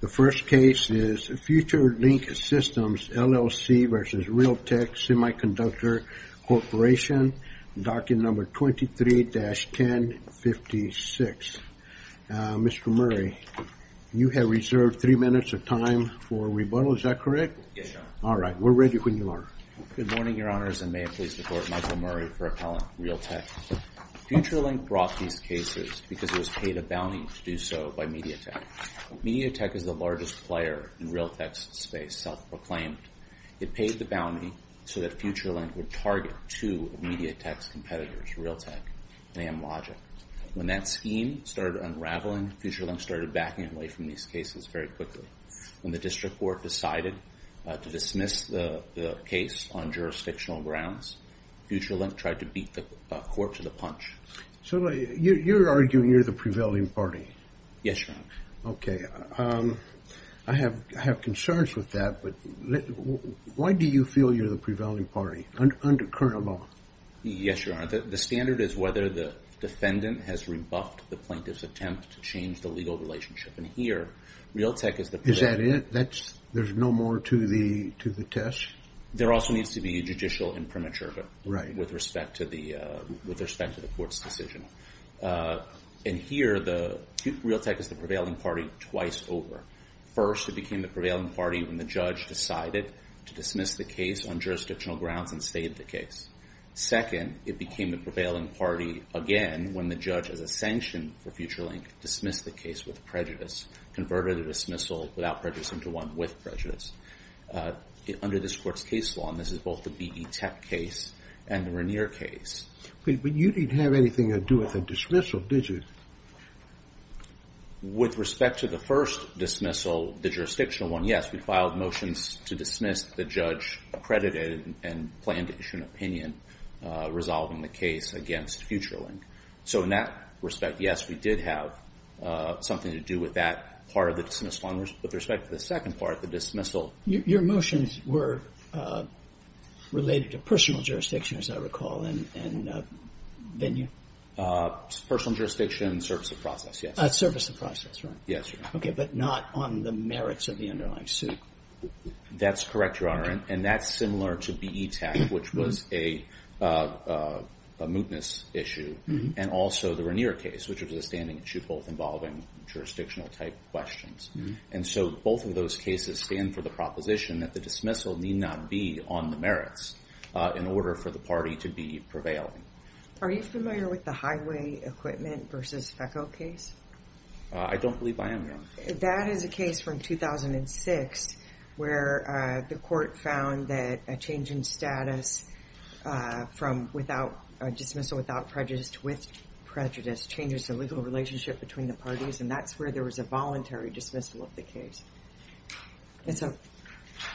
The first case is Future Link Systems, LLC v. Realtek Semiconductor Corporation, Document No. 23-1056. Mr. Murray, you have reserved three minutes of time for rebuttal. Is that correct? Yes, Your Honor. All right. We're ready when you are. Good morning, Your Honors, and may it please the Court, Michael Murray for Appellant, Realtek. Future Link brought these cases because it was paid a bounty to do so by MediaTek. MediaTek is the largest player in Realtek's space, self-proclaimed. It paid the bounty so that Future Link would target two of MediaTek's competitors, Realtek and Amlogic. When that scheme started unraveling, Future Link started backing away from these cases very quickly. When the District Court decided to dismiss the case on jurisdictional grounds, Future Link tried to beat the court to the punch. You're arguing you're the prevailing party? Yes, Your Honor. Okay. I have concerns with that, but why do you feel you're the prevailing party under current law? Yes, Your Honor. The standard is whether the defendant has rebuffed the plaintiff's attempt to change the legal relationship. Here, Realtek is the prevailing party. Is that it? There's no more to the test? There also needs to be a judicial imprimatur with respect to the court's decision. Here, Realtek is the prevailing party twice over. First, it became the prevailing party when the judge decided to dismiss the case on jurisdictional grounds and stayed the case. Second, it became the prevailing party again when the judge, as a sanction for Future Link, dismissed the case with prejudice, converted a dismissal without prejudice into one with prejudice. Under this court's case law, and this is both the B.E. Teck case and the Regnier case. But you didn't have anything to do with the dismissal, did you? With respect to the first dismissal, the jurisdictional one, yes, we filed motions to dismiss the judge accredited and planned to issue an opinion resolving the case against Future Link. So in that respect, yes, we did have something to do with that part of the dismissal. With respect to the second part, the dismissal. Your motions were related to personal jurisdiction, as I recall, and then you? Personal jurisdiction, service of process, yes. Service of process, right. Yes. Okay. But not on the merits of the underlying suit. That's correct, Your Honor. And that's similar to B.E. Teck, which was a mootness issue. And also the Regnier case, which was a standing issue, both involving jurisdictional type questions. And so both of those cases stand for the proposition that the dismissal need not be on the merits in order for the party to be prevailing. Are you familiar with the highway equipment versus FECO case? I don't believe I am, Your Honor. That is a case from 2006 where the court found that a change in status from a dismissal without prejudice to with prejudice changes the legal relationship between the parties. And that's where there was a voluntary dismissal of the case. It's a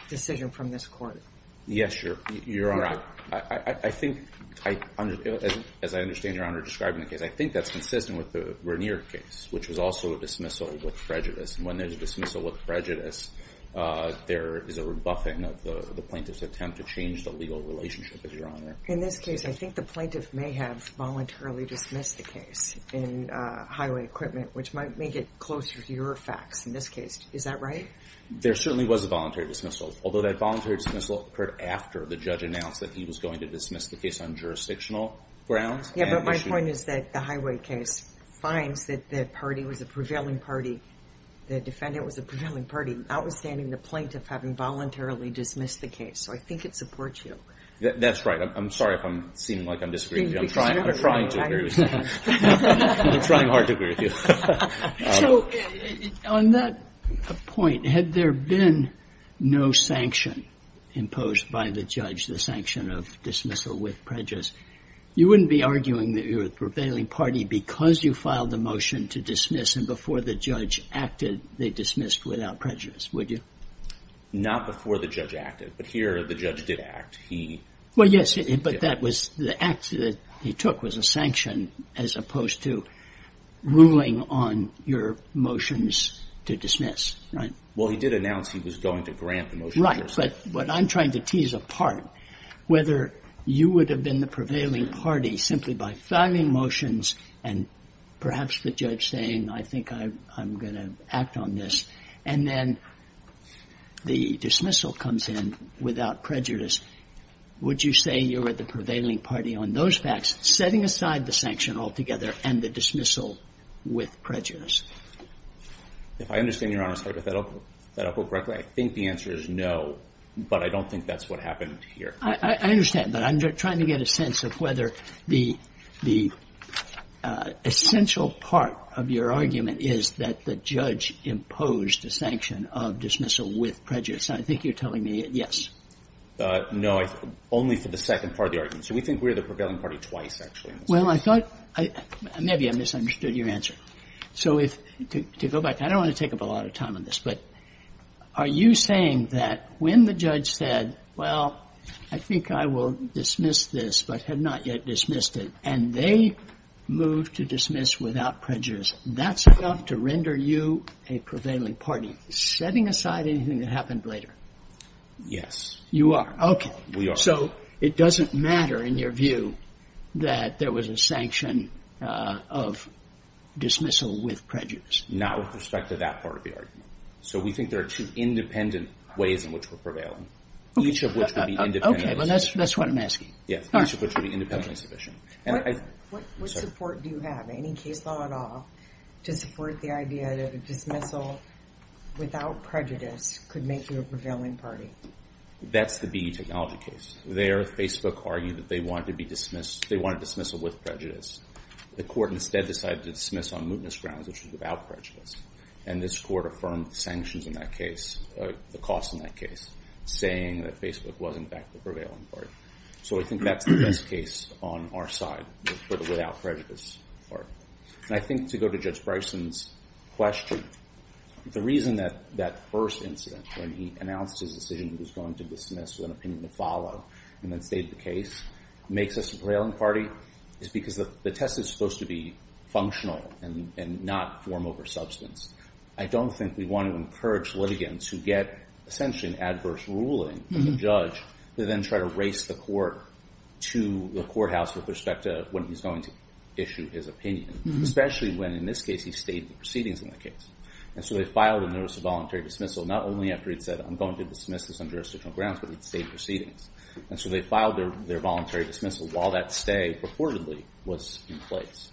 decision from this court. Yes, Your Honor. I think, as I understand Your Honor describing the case, I think that's consistent with the Regnier case, which was also a dismissal with prejudice. And when there's a dismissal with prejudice, there is a rebuffing of the plaintiff's attempt to change the legal relationship, Your Honor. In this case, I think the plaintiff may have voluntarily dismissed the case in highway equipment, which might make it closer to your facts in this case. Is that right? There certainly was a voluntary dismissal, although that voluntary dismissal occurred after the judge announced that he was going to dismiss the case on jurisdictional grounds. Yeah, but my point is that the highway case finds that the party was a prevailing party, the defendant was a prevailing party, outstanding the plaintiff having voluntarily dismissed the case. So I think it supports you. That's right. I'm sorry if I'm seeming like I'm disagreeing. I'm trying to agree with you. I'm trying hard to agree with you. So on that point, had there been no sanction imposed by the judge, the sanction of dismissal with prejudice, you wouldn't be arguing that you're a prevailing party because you filed the motion to dismiss and before the judge acted, they dismissed without prejudice, would you? Not before the judge acted, but here the judge did act. He... Well, yes, but that was the act that he took was a sanction as opposed to ruling on your to dismiss, right? Well, he did announce he was going to grant the motion. Right, but what I'm trying to tease apart, whether you would have been the prevailing party simply by filing motions and perhaps the judge saying, I think I'm going to act on this. And then the dismissal comes in without prejudice. Would you say you're at the prevailing party on those facts, setting aside the sanction altogether and the dismissal with prejudice? If I understand your honor's hypothetical, I think the answer is no, but I don't think that's what happened here. I understand, but I'm trying to get a sense of whether the essential part of your argument is that the judge imposed a sanction of dismissal with prejudice. I think you're telling me yes. No, only for the second part of the argument. So we think we're the prevailing party twice actually. Well, I thought maybe I misunderstood your answer. So if to go back, I don't want to take up a lot of time on this, but are you saying that when the judge said, well, I think I will dismiss this, but had not yet dismissed it and they moved to dismiss without prejudice, that's enough to render you a prevailing party, setting aside anything that happened later? Yes, you are. Okay. So it doesn't matter in your view that there was a sanction of dismissal with prejudice. Not with respect to that part of the argument. So we think there are two independent ways in which we're prevailing. Each of which would be independent. Okay. Well, that's, that's what I'm asking. Yes. What support do you have, any case law at all to support the idea of dismissal without prejudice could make you a prevailing party? That's the BE Technology case. There, Facebook argued that they wanted to be dismissed, they wanted dismissal with prejudice. The court instead decided to dismiss on mootness grounds, which was without prejudice. And this court affirmed the sanctions in that case, the cost in that case, saying that Facebook was in fact the prevailing party. So I think that's the best case on our side, without prejudice. And I think to go to Judge Bryson's question, the reason that that first incident, when he announced his decision, he was going to dismiss with an opinion to follow, and then state the case, makes us a prevailing party is because the test is supposed to be functional and not form over substance. I don't think we want to encourage litigants who get essentially an adverse ruling from the judge to then try to race the court to the courthouse with respect to when he's going to issue his opinion, especially when, in this case, he stated the proceedings in the case. And so they filed a notice of voluntary dismissal, not only after he'd said, I'm going to dismiss this on jurisdictional grounds, but he'd state proceedings. And so they filed their voluntary dismissal while that stay purportedly was in place.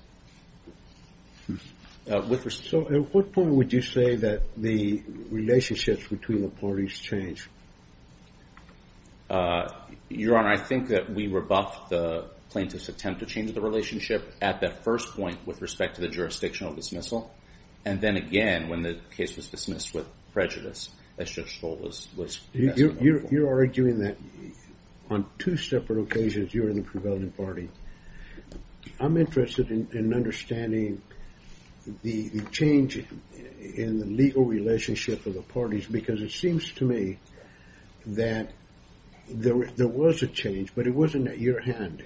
So at what point would you say that the relationships between the parties change? Your Honor, I think that we rebuffed the plaintiff's attempt to change the relationship at that first point with respect to the jurisdictional dismissal. And then again, when the case was dismissed with prejudice, as Judge Stoll was asking. You're arguing that on two separate occasions, you're in the prevailing party. I'm interested in understanding the change in the legal relationship of the parties, because it seems to me that there was a change, but it wasn't at your hand.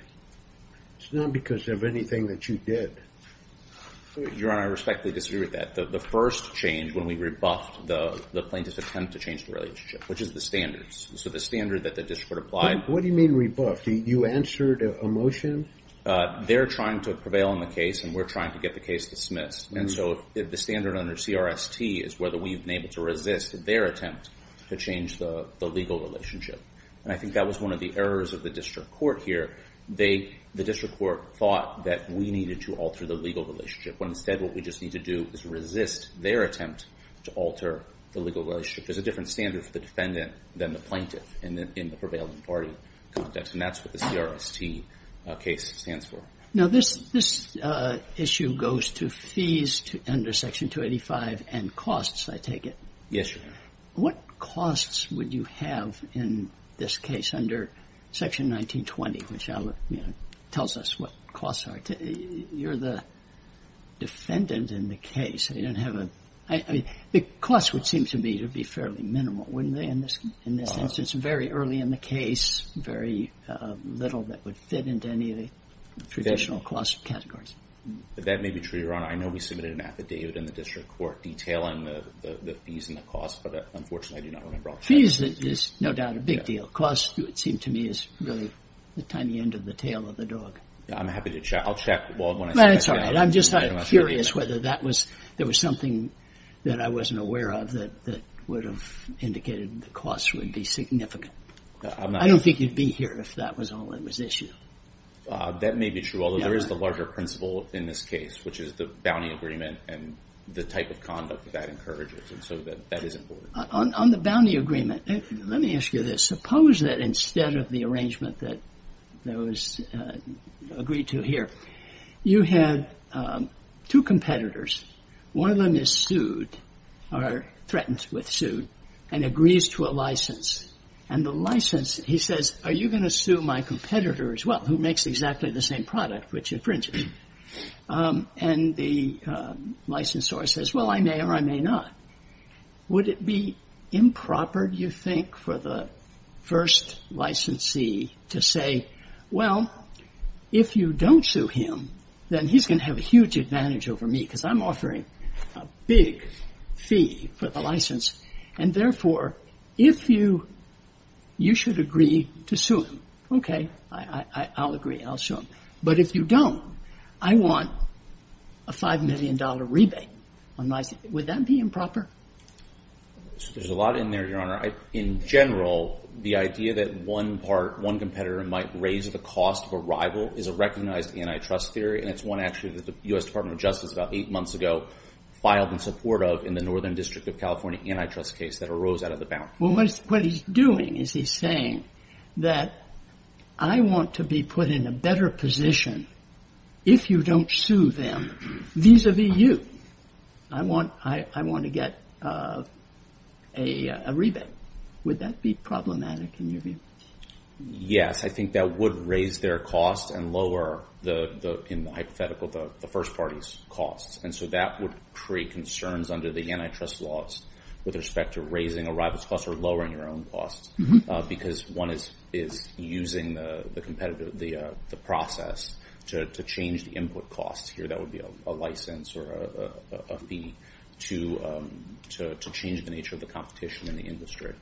It's not because of anything that you did. Your Honor, I respectfully disagree with that. The first change when we rebuffed the plaintiff's attempt to change the relationship, which is the standards. So the standard that the district applied. What do you mean rebuffed? You answered a motion? They're trying to prevail in the case, and we're trying to get the case dismissed. And so the standard under CRST is whether we've been able to resist their attempt to change the legal relationship. And I think that was one of the errors of the district court here. The district court thought that we needed to alter the legal relationship, when instead what we just need to do is resist their attempt to alter the legal relationship. There's a different standard for the defendant than the plaintiff in the prevailing party context. And that's what the stands for. Now, this issue goes to fees under Section 285 and costs, I take it? Yes, Your Honor. What costs would you have in this case under Section 1920, which tells us what costs are? You're the defendant in the case. You don't have a... I mean, the costs would seem to me to be fairly minimal, wouldn't they? In this instance, very early in the case, very little that would fit into any of the traditional cost categories. That may be true, Your Honor. I know we submitted an affidavit in the district court detailing the fees and the costs, but unfortunately, I do not remember all the details. Fees is no doubt a big deal. Costs, it would seem to me, is really the tiny end of the tail of the dog. I'm happy to check. I'll check. Well, that's all right. I'm just curious whether there was something that I wasn't aware of that would have indicated the costs would be significant. I don't think you'd be here if that was all that was entitled to. I think it's a little bit of a mystery. But I don't know that I have any particular knowledge of that issue. That may be true, although there is the larger principle in this case, which is the bounty agreement and the type of conduct that encourages it, and so that is important. On the bounty agreement, let me ask you this. Suppose that instead of the arrangement that was agreed to here, you had two competitors. One of them is sued, or threatened with suit, and agrees to a license. And the license, he says, are you going to sue my competitor as well, who makes exactly the same product, which infringes? And the licensor says, well, I may or I may not. Would it be improper, do you think, for the first licensee to say, well, if you don't sue him, then he's going to have a huge advantage over me because I'm offering a big fee for the license. And therefore, if you should agree to sue him, okay, I'll agree, I'll sue him. But if you don't, I want a $5 million rebate. Would that be improper? There's a lot in there, Your Honor. In general, the idea that one part, one competitor might raise the cost of a rival is a recognized antitrust theory, and it's one actually that U.S. Department of Justice about eight months ago filed in support of in the Northern District of California antitrust case that arose out of the bound. Well, what he's doing is he's saying that I want to be put in a better position if you don't sue them vis-a-vis you. I want to get a rebate. Would that be problematic in your view? Yes, I think that would raise their cost and lower in the hypothetical the first party's costs. And so that would create concerns under the antitrust laws with respect to raising a rival's cost or lowering your own cost because one is using the process to change the input cost. Here, that would be a license or a fee to change the nature of the competition in the industry.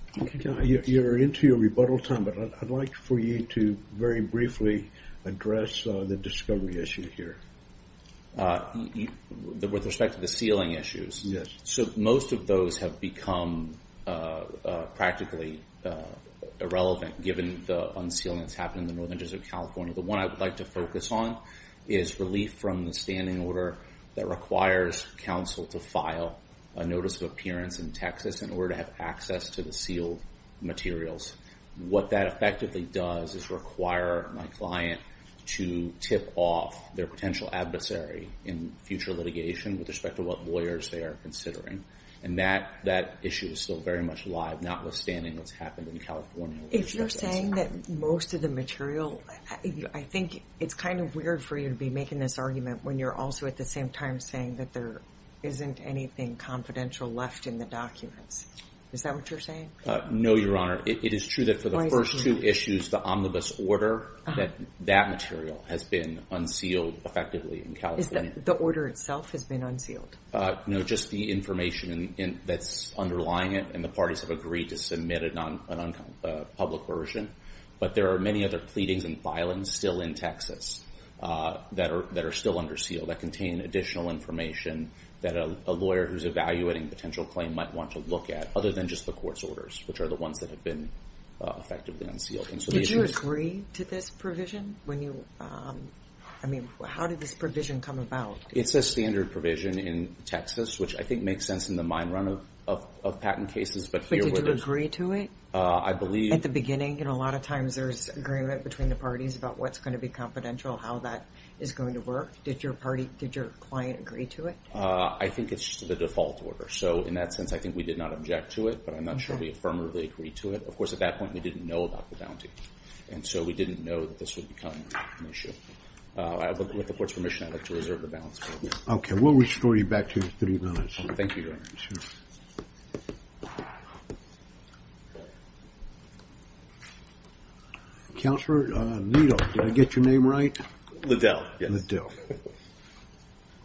You're into your rebuttal time, but I'd like for you to very briefly address the discovery issue here. With respect to the sealing issues? Yes. So most of those have become practically irrelevant given the unsealing that's happened in the Northern District of California. The one I would like to focus on is relief from the standing order that requires counsel to file a notice of appearance in Texas in order to have access to the sealed materials. What that effectively does is require my client to tip off their potential adversary in future litigation with respect to what lawyers they are considering. And that issue is still very much alive notwithstanding what's happened in California. If you're saying that most of the material, I think it's kind of weird for you to be making this argument when you're also at the same time saying that there isn't anything confidential left in the documents. Is that what you're saying? No, Your Honor. It is true that for the first two issues, the omnibus order, that that material has been unsealed effectively in California. Is that the order itself has been unsealed? No, just the information that's underlying it and the parties have agreed to submit a non-public version. But there are many other pleadings and filings still in Texas that are still under seal that contain additional information that a lawyer who's evaluating a potential claim might want to look at, other than just the court's orders, which are the ones that have been effectively unsealed. Did you agree to this provision? I mean, how did this provision come about? It's a standard provision in Texas, which I think makes sense in the mind run of patent cases. But did you agree to it? I believe... At the beginning, and a lot of times there's agreement between the parties about what's going to be confidential, how that is going to work. Did your client agree to it? I think it's just the default order. So in that sense, I think we did not object to it, but I'm not sure we affirmatively agreed to it. Of course, at that point, we didn't know about the bounty. And so we didn't know that this would become an issue. With the court's permission, I'd like to reserve the balance for a minute. Okay, we'll restore you back to your three minutes. Thank you, Your Honor. Thank you, Your Honor. Counselor Needle, did I get your name right? Liddell, yes. Liddell.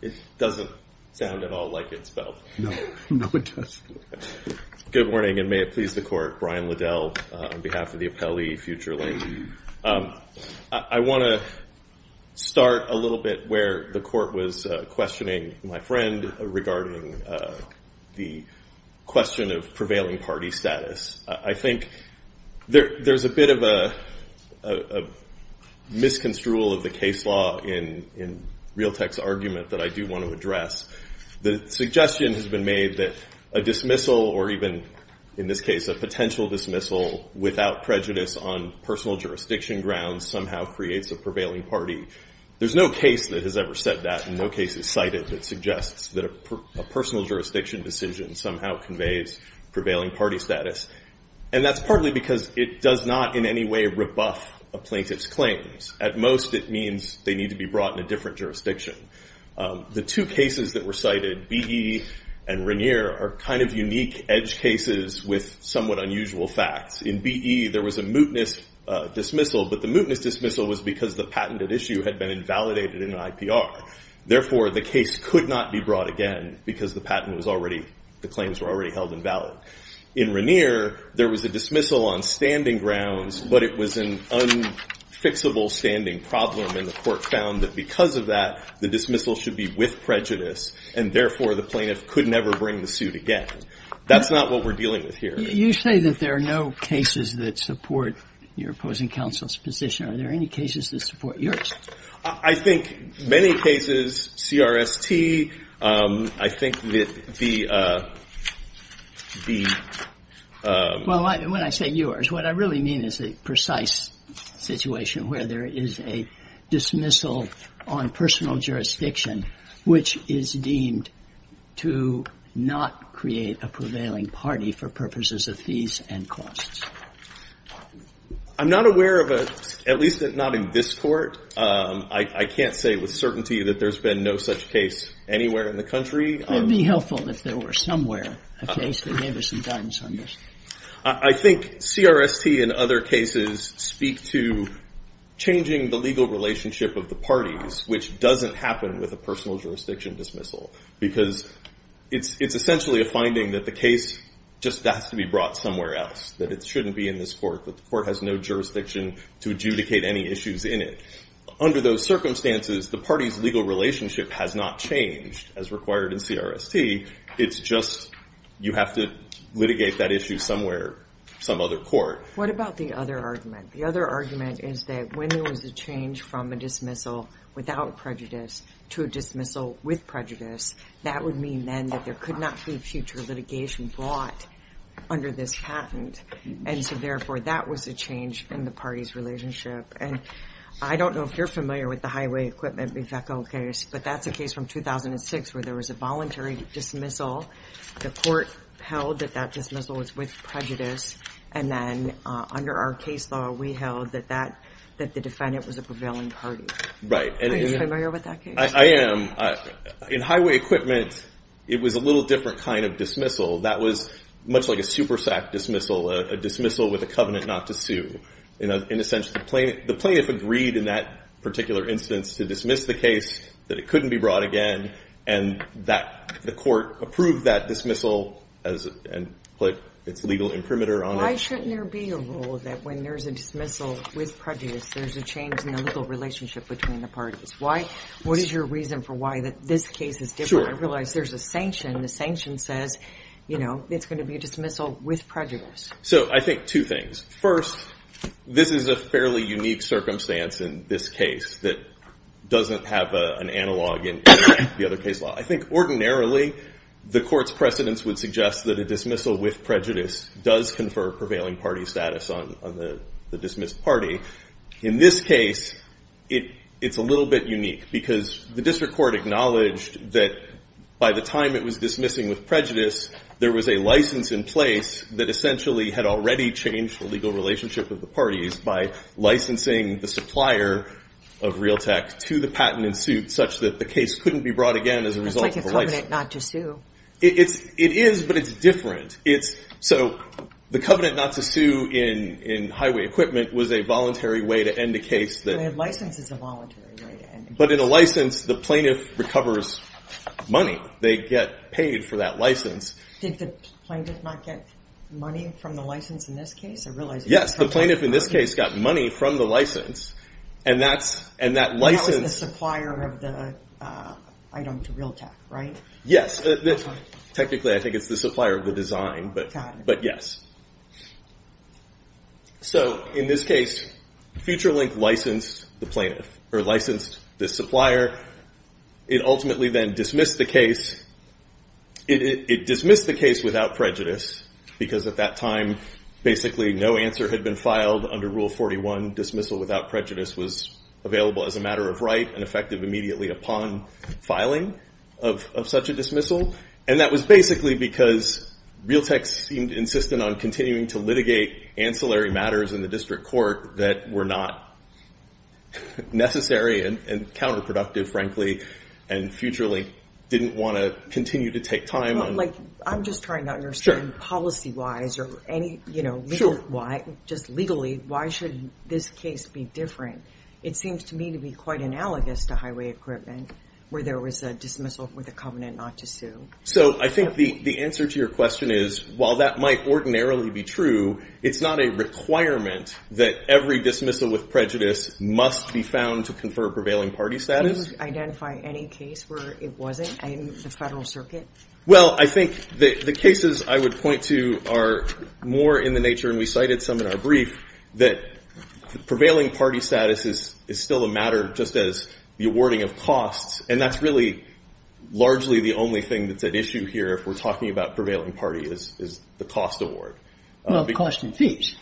It doesn't sound at all like it's spelled. No, no, it doesn't. Good morning, and may it please the court. Brian Liddell on behalf of the appellee, future lay. I want to start a little bit where the court was questioning my friend regarding the question of prevailing party status. I think there's a bit of a misconstrual of the case law in Realtek's argument that I do want to address. The suggestion has been made that a dismissal or even, in this case, a potential dismissal without prejudice on personal jurisdiction grounds somehow creates a prevailing party. There's no case that has ever said that and no case is cited that suggests that a personal jurisdiction decision somehow conveys prevailing party status. That's partly because it does not in any way rebuff a plaintiff's claims. At most, it means they need to be brought in a different jurisdiction. The two cases that were cited, BE and Regnier, are kind of unique edge cases with somewhat unusual facts. In BE, there was a mootness dismissal, but the mootness dismissal was because the patented issue had been invalidated in an IPR. Therefore, the case could not be brought again because the patent was already, the claims were already held invalid. In Regnier, there was a dismissal on standing grounds, but it was an unfixable standing problem and the court found that because of that, the dismissal should be with prejudice and therefore, the plaintiff could never bring the suit again. That's not what we're dealing with here. You say that there are no cases that support your opposing counsel's position. Are there any cases that support yours? I think many cases, CRST, I think that the, the Well, when I say yours, what I really mean is a precise situation where there is a dismissal on personal jurisdiction which is deemed to not create a prevailing party for purposes of fees and costs. I'm not aware of a, at least not in this court. I can't say with certainty that there's been no such case anywhere in the country. It would be helpful if there were somewhere a case that gave us some guidance on this. I think CRST and other cases speak to changing the legal relationship of the parties, which doesn't happen with a personal jurisdiction dismissal because it's essentially a finding that the case just has to be brought somewhere else, that it shouldn't be in this court, that the court has no jurisdiction to adjudicate any issues in it. Under those circumstances, the party's legal relationship has not changed as required in CRST. It's just you have to litigate that issue somewhere, some other court. What about the other argument? The other argument is that when there was a change from a dismissal without prejudice to a dismissal with prejudice, that would mean then that there could not be future litigation brought under this patent. Therefore, that was a change in the party's relationship. I don't know if you're familiar with the Highway Equipment Reveco case, but that's a case from 2006 where there was a voluntary dismissal. The court held that that dismissal was with prejudice. Then under our case law, we held that the defendant was a prevailing party. Are you familiar with that case? I am. In Highway Equipment, it was a little different kind of dismissal. That was much like a SuperSAC dismissal, a dismissal with a covenant not to sue. In a sense, the plaintiff agreed in that particular instance to dismiss the case, that it couldn't be brought again, and the court approved that dismissal and put its legal imprimatur on it. Why shouldn't there be a rule that when there's a dismissal with prejudice, there's a change in the legal relationship between the parties? What is your reason for why this case is different? I realize there's a sanction. The sanction says it's going to be a dismissal with prejudice. I think two things. First, this is a fairly unique circumstance in this case that doesn't have an analog in the other case law. I think ordinarily, the court's precedence would suggest that a dismissal with prejudice does confer prevailing party status on the dismissed party. In this case, it's a little bit unique because the district court acknowledged that by the time it was dismissing with prejudice, there was a license in place that essentially had already changed the legal relationship of the parties by licensing the supplier of Realtek to the patent in suit such that the case couldn't be brought again as a result of the license. That's like a covenant not to sue. It is, but it's different. The covenant not to sue in highway equipment was a voluntary way to end a case. A license is a voluntary way to end a case. But in a license, the plaintiff recovers money. They get paid for that license. Did the plaintiff not get money from the license in this case? I realize- Yes, the plaintiff in this case got money from the license. And that license- That was the supplier of the item to Realtek, right? Yes. Technically, I think it's the supplier of the design, but yes. In this case, FutureLink licensed this supplier. It ultimately then dismissed the case without prejudice because at that time, basically, no answer had been filed under Rule 41, dismissal without prejudice was available as a matter of right and effective immediately upon filing of such a dismissal. And that was basically because Realtek seemed insistent on continuing to litigate ancillary matters in the district court that were not necessary and counterproductive, frankly, and FutureLink didn't want to continue to take time on- I'm just trying to understand policy-wise or just legally, why should this case be different? It seems to me to be quite analogous to highway equipment where there was a dismissal for the covenant not to sue. I think the answer to your question is, while that might ordinarily be true, it's not a requirement that every dismissal with prejudice must be found to confer prevailing party status. Can you identify any case where it wasn't in the Federal Circuit? Well, I think the cases I would point to are more in the nature, and we cited some in our brief, that prevailing party status is still a matter just as the awarding of costs, and that's really largely the only thing that's at issue here if we're talking about prevailing party is the cost award. Well, cost and fees.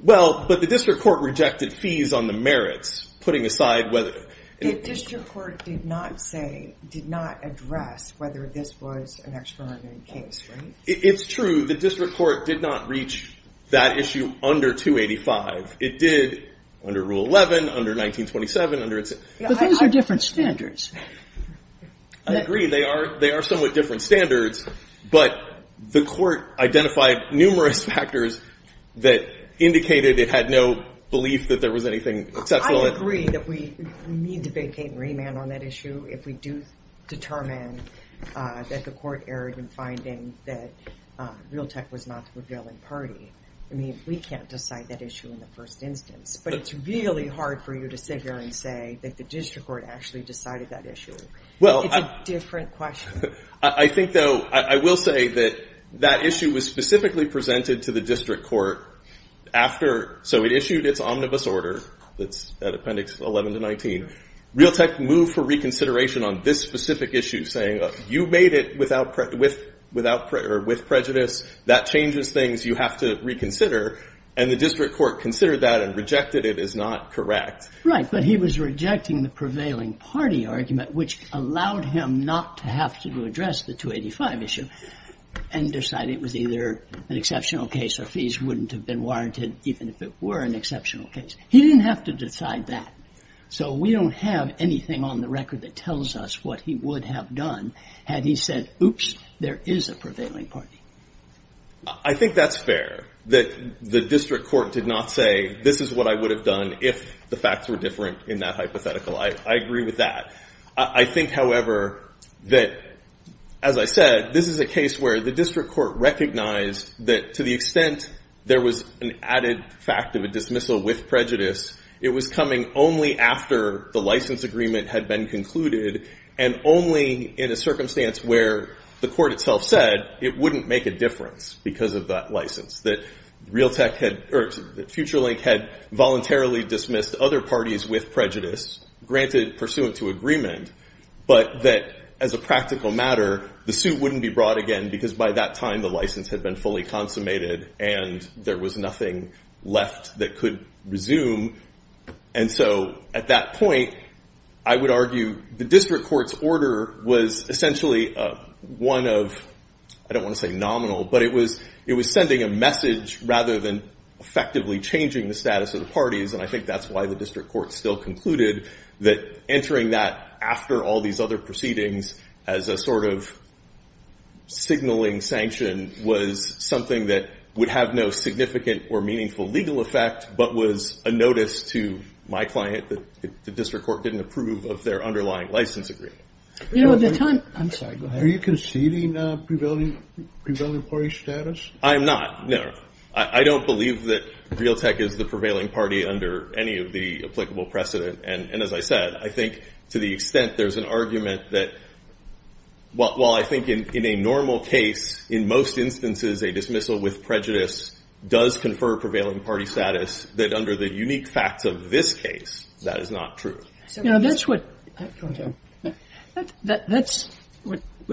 Well, but the district court rejected fees on the merits, putting aside whether- The district court did not say, did not address whether this was an extraordinary case, right? It's true. The district court did not reach that issue under 285. It did under Rule 11, under 1927, under its- But those are different standards. I agree. They are somewhat different standards, but the court identified numerous factors that indicated it had no belief that there was anything exceptional- I agree that we need to vacate and remand on that issue if we do determine that the court erred in finding that Realtek was not the prevailing party. I mean, we can't decide that issue in the first instance, but it's really hard for you to sit here and say that the district court actually decided that issue. It's a different question. I think, though, I will say that that issue was specifically presented to the district court after- so it issued its omnibus order that's at Appendix 11 to 19. Realtek moved for reconsideration on this specific issue, saying you made it with prejudice. That changes things. You have to reconsider. And the district court considered that and rejected it as not correct. Right. But he was rejecting the prevailing party argument, which allowed him not to have to address the 285 issue and decided it was either an exceptional case or fees wouldn't have been warranted even if it were an exceptional case. He didn't have to decide that. So we don't have anything on the record that tells us what he would have done had he said, oops, there is a prevailing party. I think that's fair that the district court did not say this is what I would have done if the facts were different in that hypothetical. I agree with that. I think, however, that, as I said, this is a case where the district court recognized that to the extent there was an added fact of a dismissal with prejudice, it was coming only after the license agreement had been concluded and only in a circumstance where the court itself said it wouldn't make a difference because of that license, that Realtek had or FutureLink had voluntarily dismissed other parties with prejudice, granted pursuant to agreement, but that, as a practical matter, the suit wouldn't be brought again because by that license had been fully consummated and there was nothing left that could resume. And so at that point, I would argue the district court's order was essentially one of, I don't want to say nominal, but it was sending a message rather than effectively changing the status of the parties. And I think that's why the district court still concluded that entering that after all these other proceedings as a sort of sanction was something that would have no significant or meaningful legal effect, but was a notice to my client that the district court didn't approve of their underlying license agreement. Are you conceding prevailing party status? I'm not, no. I don't believe that Realtek is the prevailing party under any of the applicable precedent. And as I said, I think to the extent there's an argument that, well, I think in a normal case, in most instances, a dismissal with prejudice does confer prevailing party status, that under the unique facts of this case, that is not true. Now, that's what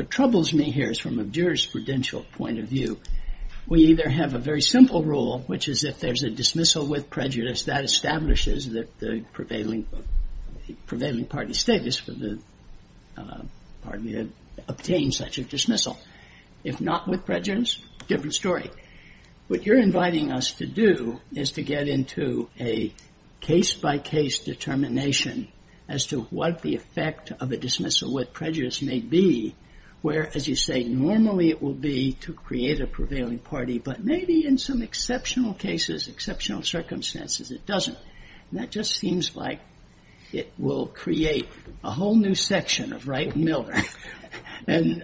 troubles me here is from a jurisprudential point of view. We either have a very simple rule, which is if there's a dismissal with prejudice, that establishes the prevailing party status for the party that obtained such a dismissal. If not with prejudice, different story. What you're inviting us to do is to get into a case by case determination as to what the effect of a dismissal with prejudice may be, where, as you say, normally it will be to create a prevailing party, but maybe in some exceptional cases, exceptional circumstances, it doesn't. And that just seems like it will create a whole new section of right mill and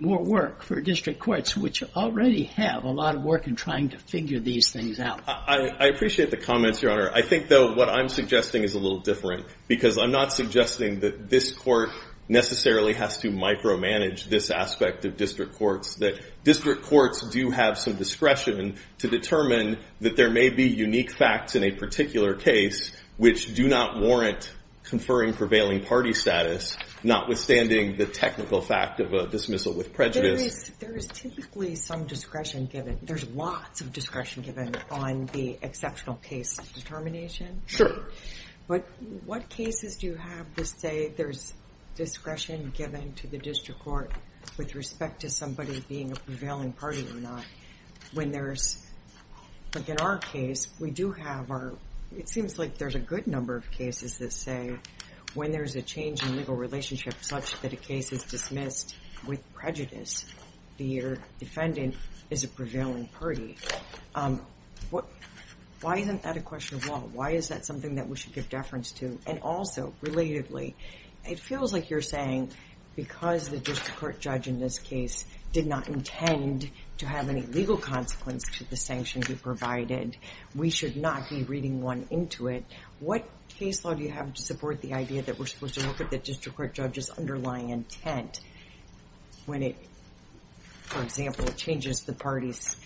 more work for district courts, which already have a lot of work in trying to figure these things out. I appreciate the comments, Your Honor. I think, though, what I'm suggesting is a little different, because I'm not suggesting that this court necessarily has to micromanage this aspect of district courts, that district courts do have some discretion to determine that there may be unique facts in a particular case which do not warrant conferring prevailing party status, notwithstanding the technical fact of a dismissal with prejudice. There is typically some discretion given. There's lots of discretion given on the exceptional case determination. Sure. But what cases do you have to say there's discretion given to the district court with respect to somebody being a prevailing party or not? When there's, like in our case, we do have our, it seems like there's a good number of cases that say when there's a change in legal relationship such that a case is dismissed with prejudice, the defendant is a prevailing party. Why isn't that a question of law? Why is that something that we should give deference to? And also, relatively, it feels like you're saying because the district court judge in this case did not intend to have any legal consequence to the sanctions you provided, we should not be reading one into it. What case law do you have to support the idea that we're supposed to look at the district court judge's underlying intent when it, for example, changes the party's,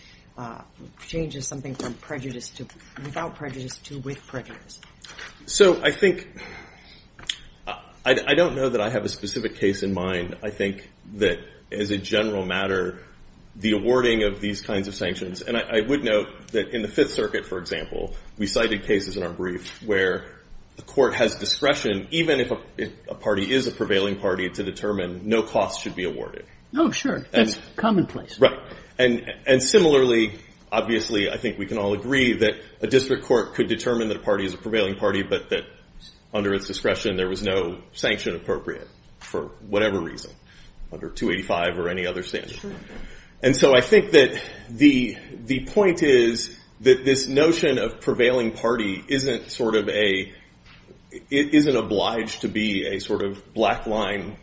changes something from prejudice to without prejudice to with prejudice? So I think, I don't know that I have a specific case in mind. I think that as a general matter, the awarding of these kinds of sanctions, and I would note that in the Fifth Circuit, for example, we cited cases in our brief where the court has discretion, even if a party is a prevailing party, to determine no costs should be awarded. Oh, sure. That's commonplace. Right. And similarly, obviously, I think we can all agree that a district court could determine that a party is a prevailing party, but that under its discretion there was no sanction appropriate for whatever reason, under 285 or any other standard. And so I think that the point is that this notion of prevailing party isn't sort of a, it isn't obliged to be a sort of black line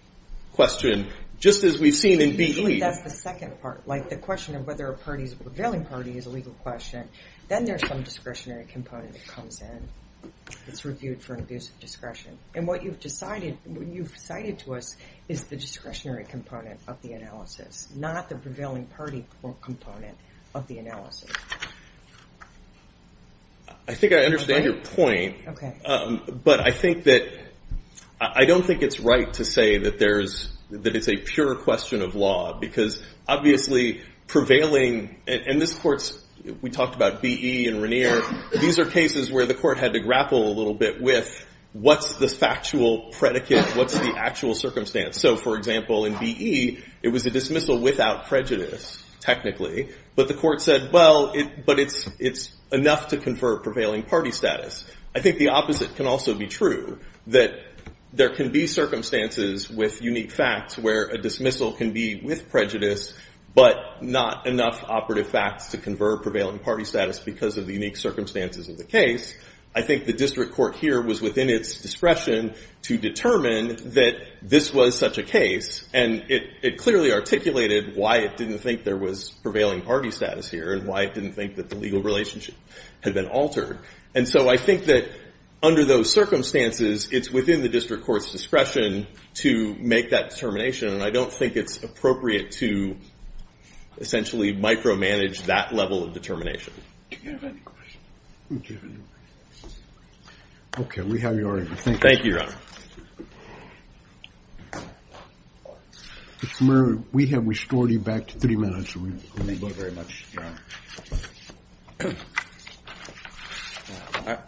question, just as we've seen in BE. Usually that's the second part, like the question of whether a party's a prevailing party is a legal question. Then there's some discretionary component that it's reviewed for an abuse of discretion. And what you've decided, what you've cited to us, is the discretionary component of the analysis, not the prevailing party component of the analysis. I think I understand your point, but I think that, I don't think it's right to say that there's, that it's a pure question of law, because obviously prevailing, and this court's, we talked about BE and Regnier, these are cases where the court had to grapple a little bit with what's the factual predicate, what's the actual circumstance. So for example, in BE, it was a dismissal without prejudice, technically, but the court said, well, but it's enough to confer prevailing party status. I think the opposite can also be true, that there can be circumstances with unique facts where a dismissal can be with prejudice, but not enough operative facts to confer prevailing party status because of the unique circumstances of the case. I think the district court here was within its discretion to determine that this was such a case, and it clearly articulated why it didn't think there was prevailing party status here, and why it didn't think that the legal relationship had been altered. And so I think that under those circumstances, it's within the district court's discretion to make that determination, and I don't think it's appropriate to essentially micromanage that level of determination. Do you have any questions? Okay, we have your order. Thank you. Thank you, Your Honor. Mr. Murray, we have restored you back to three minutes. Thank you very much, Your Honor.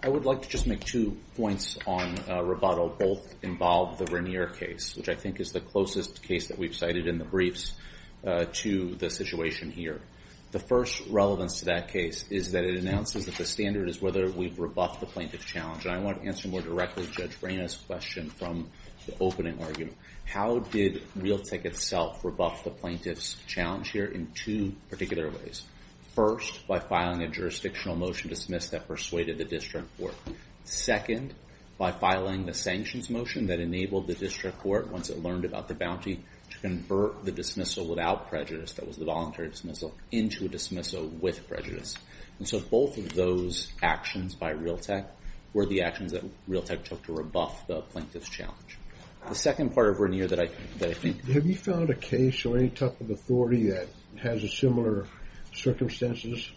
I would like to just make two points on Roboto. Both involve the Regnier case, which I think is the closest case that we've cited in the briefs to the situation here. The first relevance to that case is that it announces that the standard is whether we've rebuffed the plaintiff's challenge. And I want to answer more directly Judge Brena's question from the opening argument. How did Realtek itself rebuff the plaintiff's challenge here in two particular ways? First, by filing a jurisdictional motion to dismiss that persuaded the district court. Second, by filing the sanctions motion that enabled the district court, once it learned about the bounty, to convert the dismissal without prejudice, that was the voluntary dismissal, into a dismissal with prejudice. And so both of those actions by Realtek were the actions that Realtek took to rebuff the plaintiff's challenge. The second part of Regnier that I think... Have you found a case or any type of authority that has similar circumstances?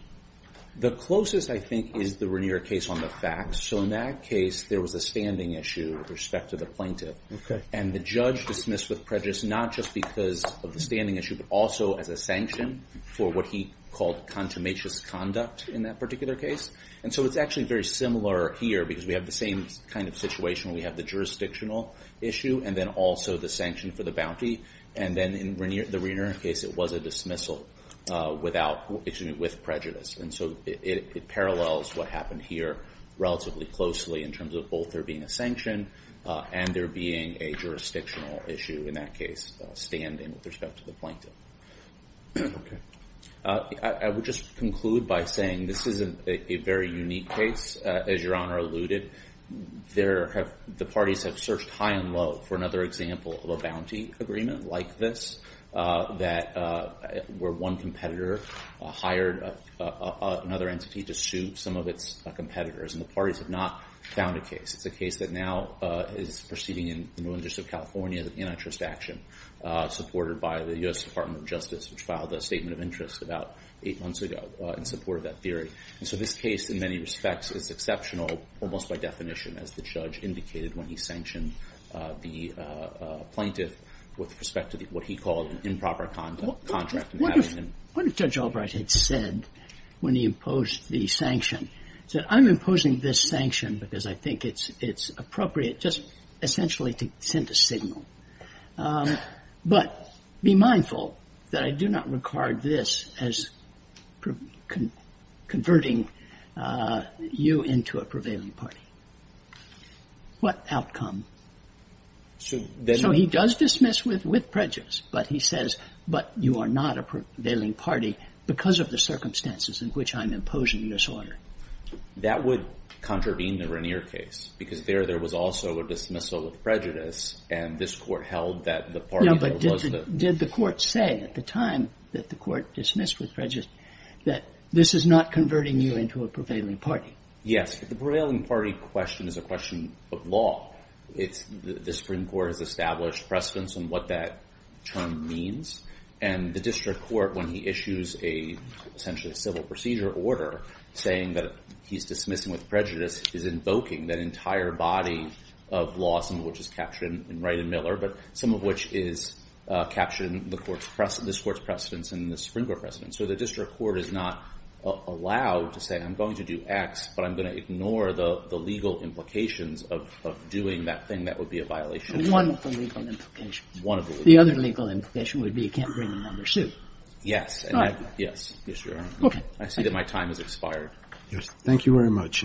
The closest I think is the Regnier case on the facts. So in that case, there was a standing issue with respect to the plaintiff. And the judge dismissed with prejudice, not just because of the standing issue, but also as a sanction for what he called contumacious conduct in that particular case. And so it's actually very similar here because we have the same kind of situation where we have the jurisdictional issue and then also the sanction for the bounty. And then in the Regnier case, it was a dismissal with prejudice. And so it parallels what happened here relatively closely in terms of both there being a sanction and there being a jurisdictional issue in that case, standing with respect to the plaintiff. I would just conclude by saying this isn't a very unique case. As Your Honor alluded, the parties have searched high and low for another example of a bounty agreement like this, where one competitor hired another entity to sue some of its competitors. And the parties have not found a case. It's a case that now is proceeding in the new interest of California, the antitrust action, supported by the US Department of Justice, which filed a statement of interest about eight months ago in support of that theory. And so this case, in many respects, is exceptional almost by definition, as the judge indicated when he sanctioned the plaintiff with respect to what he called an improper contract. What if Judge Albright had said when he imposed the sanction, said, I'm imposing this sanction because I think it's appropriate just essentially to send a signal. But be mindful that I do not regard this as converting you into a prevailing party. What outcome? So he does dismiss with prejudice, but he says, but you are not a prevailing party because of the circumstances in which I'm imposing this order. That would contravene the Rainier case, because there, there was also a dismissal of prejudice. And this court held that the party that was the... Did the court say at the time that the court dismissed with prejudice that this is not converting you into a prevailing party? Yes. But the prevailing party question is a question of law. It's the Supreme Court has established precedence on what that term means. And the district court, when he issues a essentially civil procedure order saying that he's dismissing with prejudice, is invoking that entire body of law, some of which is captured in Wright and Miller, but some of which is captured in this court's precedence and the Supreme Court precedence. So the district court is not allowed to say, I'm going to do X, but I'm going to ignore the legal implications of doing that thing. That would be a violation. One of the legal implications. One of the legal implications. The other legal implication would be you can't bring a number suit. Yes. Yes, Your Honor. Okay. I see that my time has expired. Yes. Thank you very much.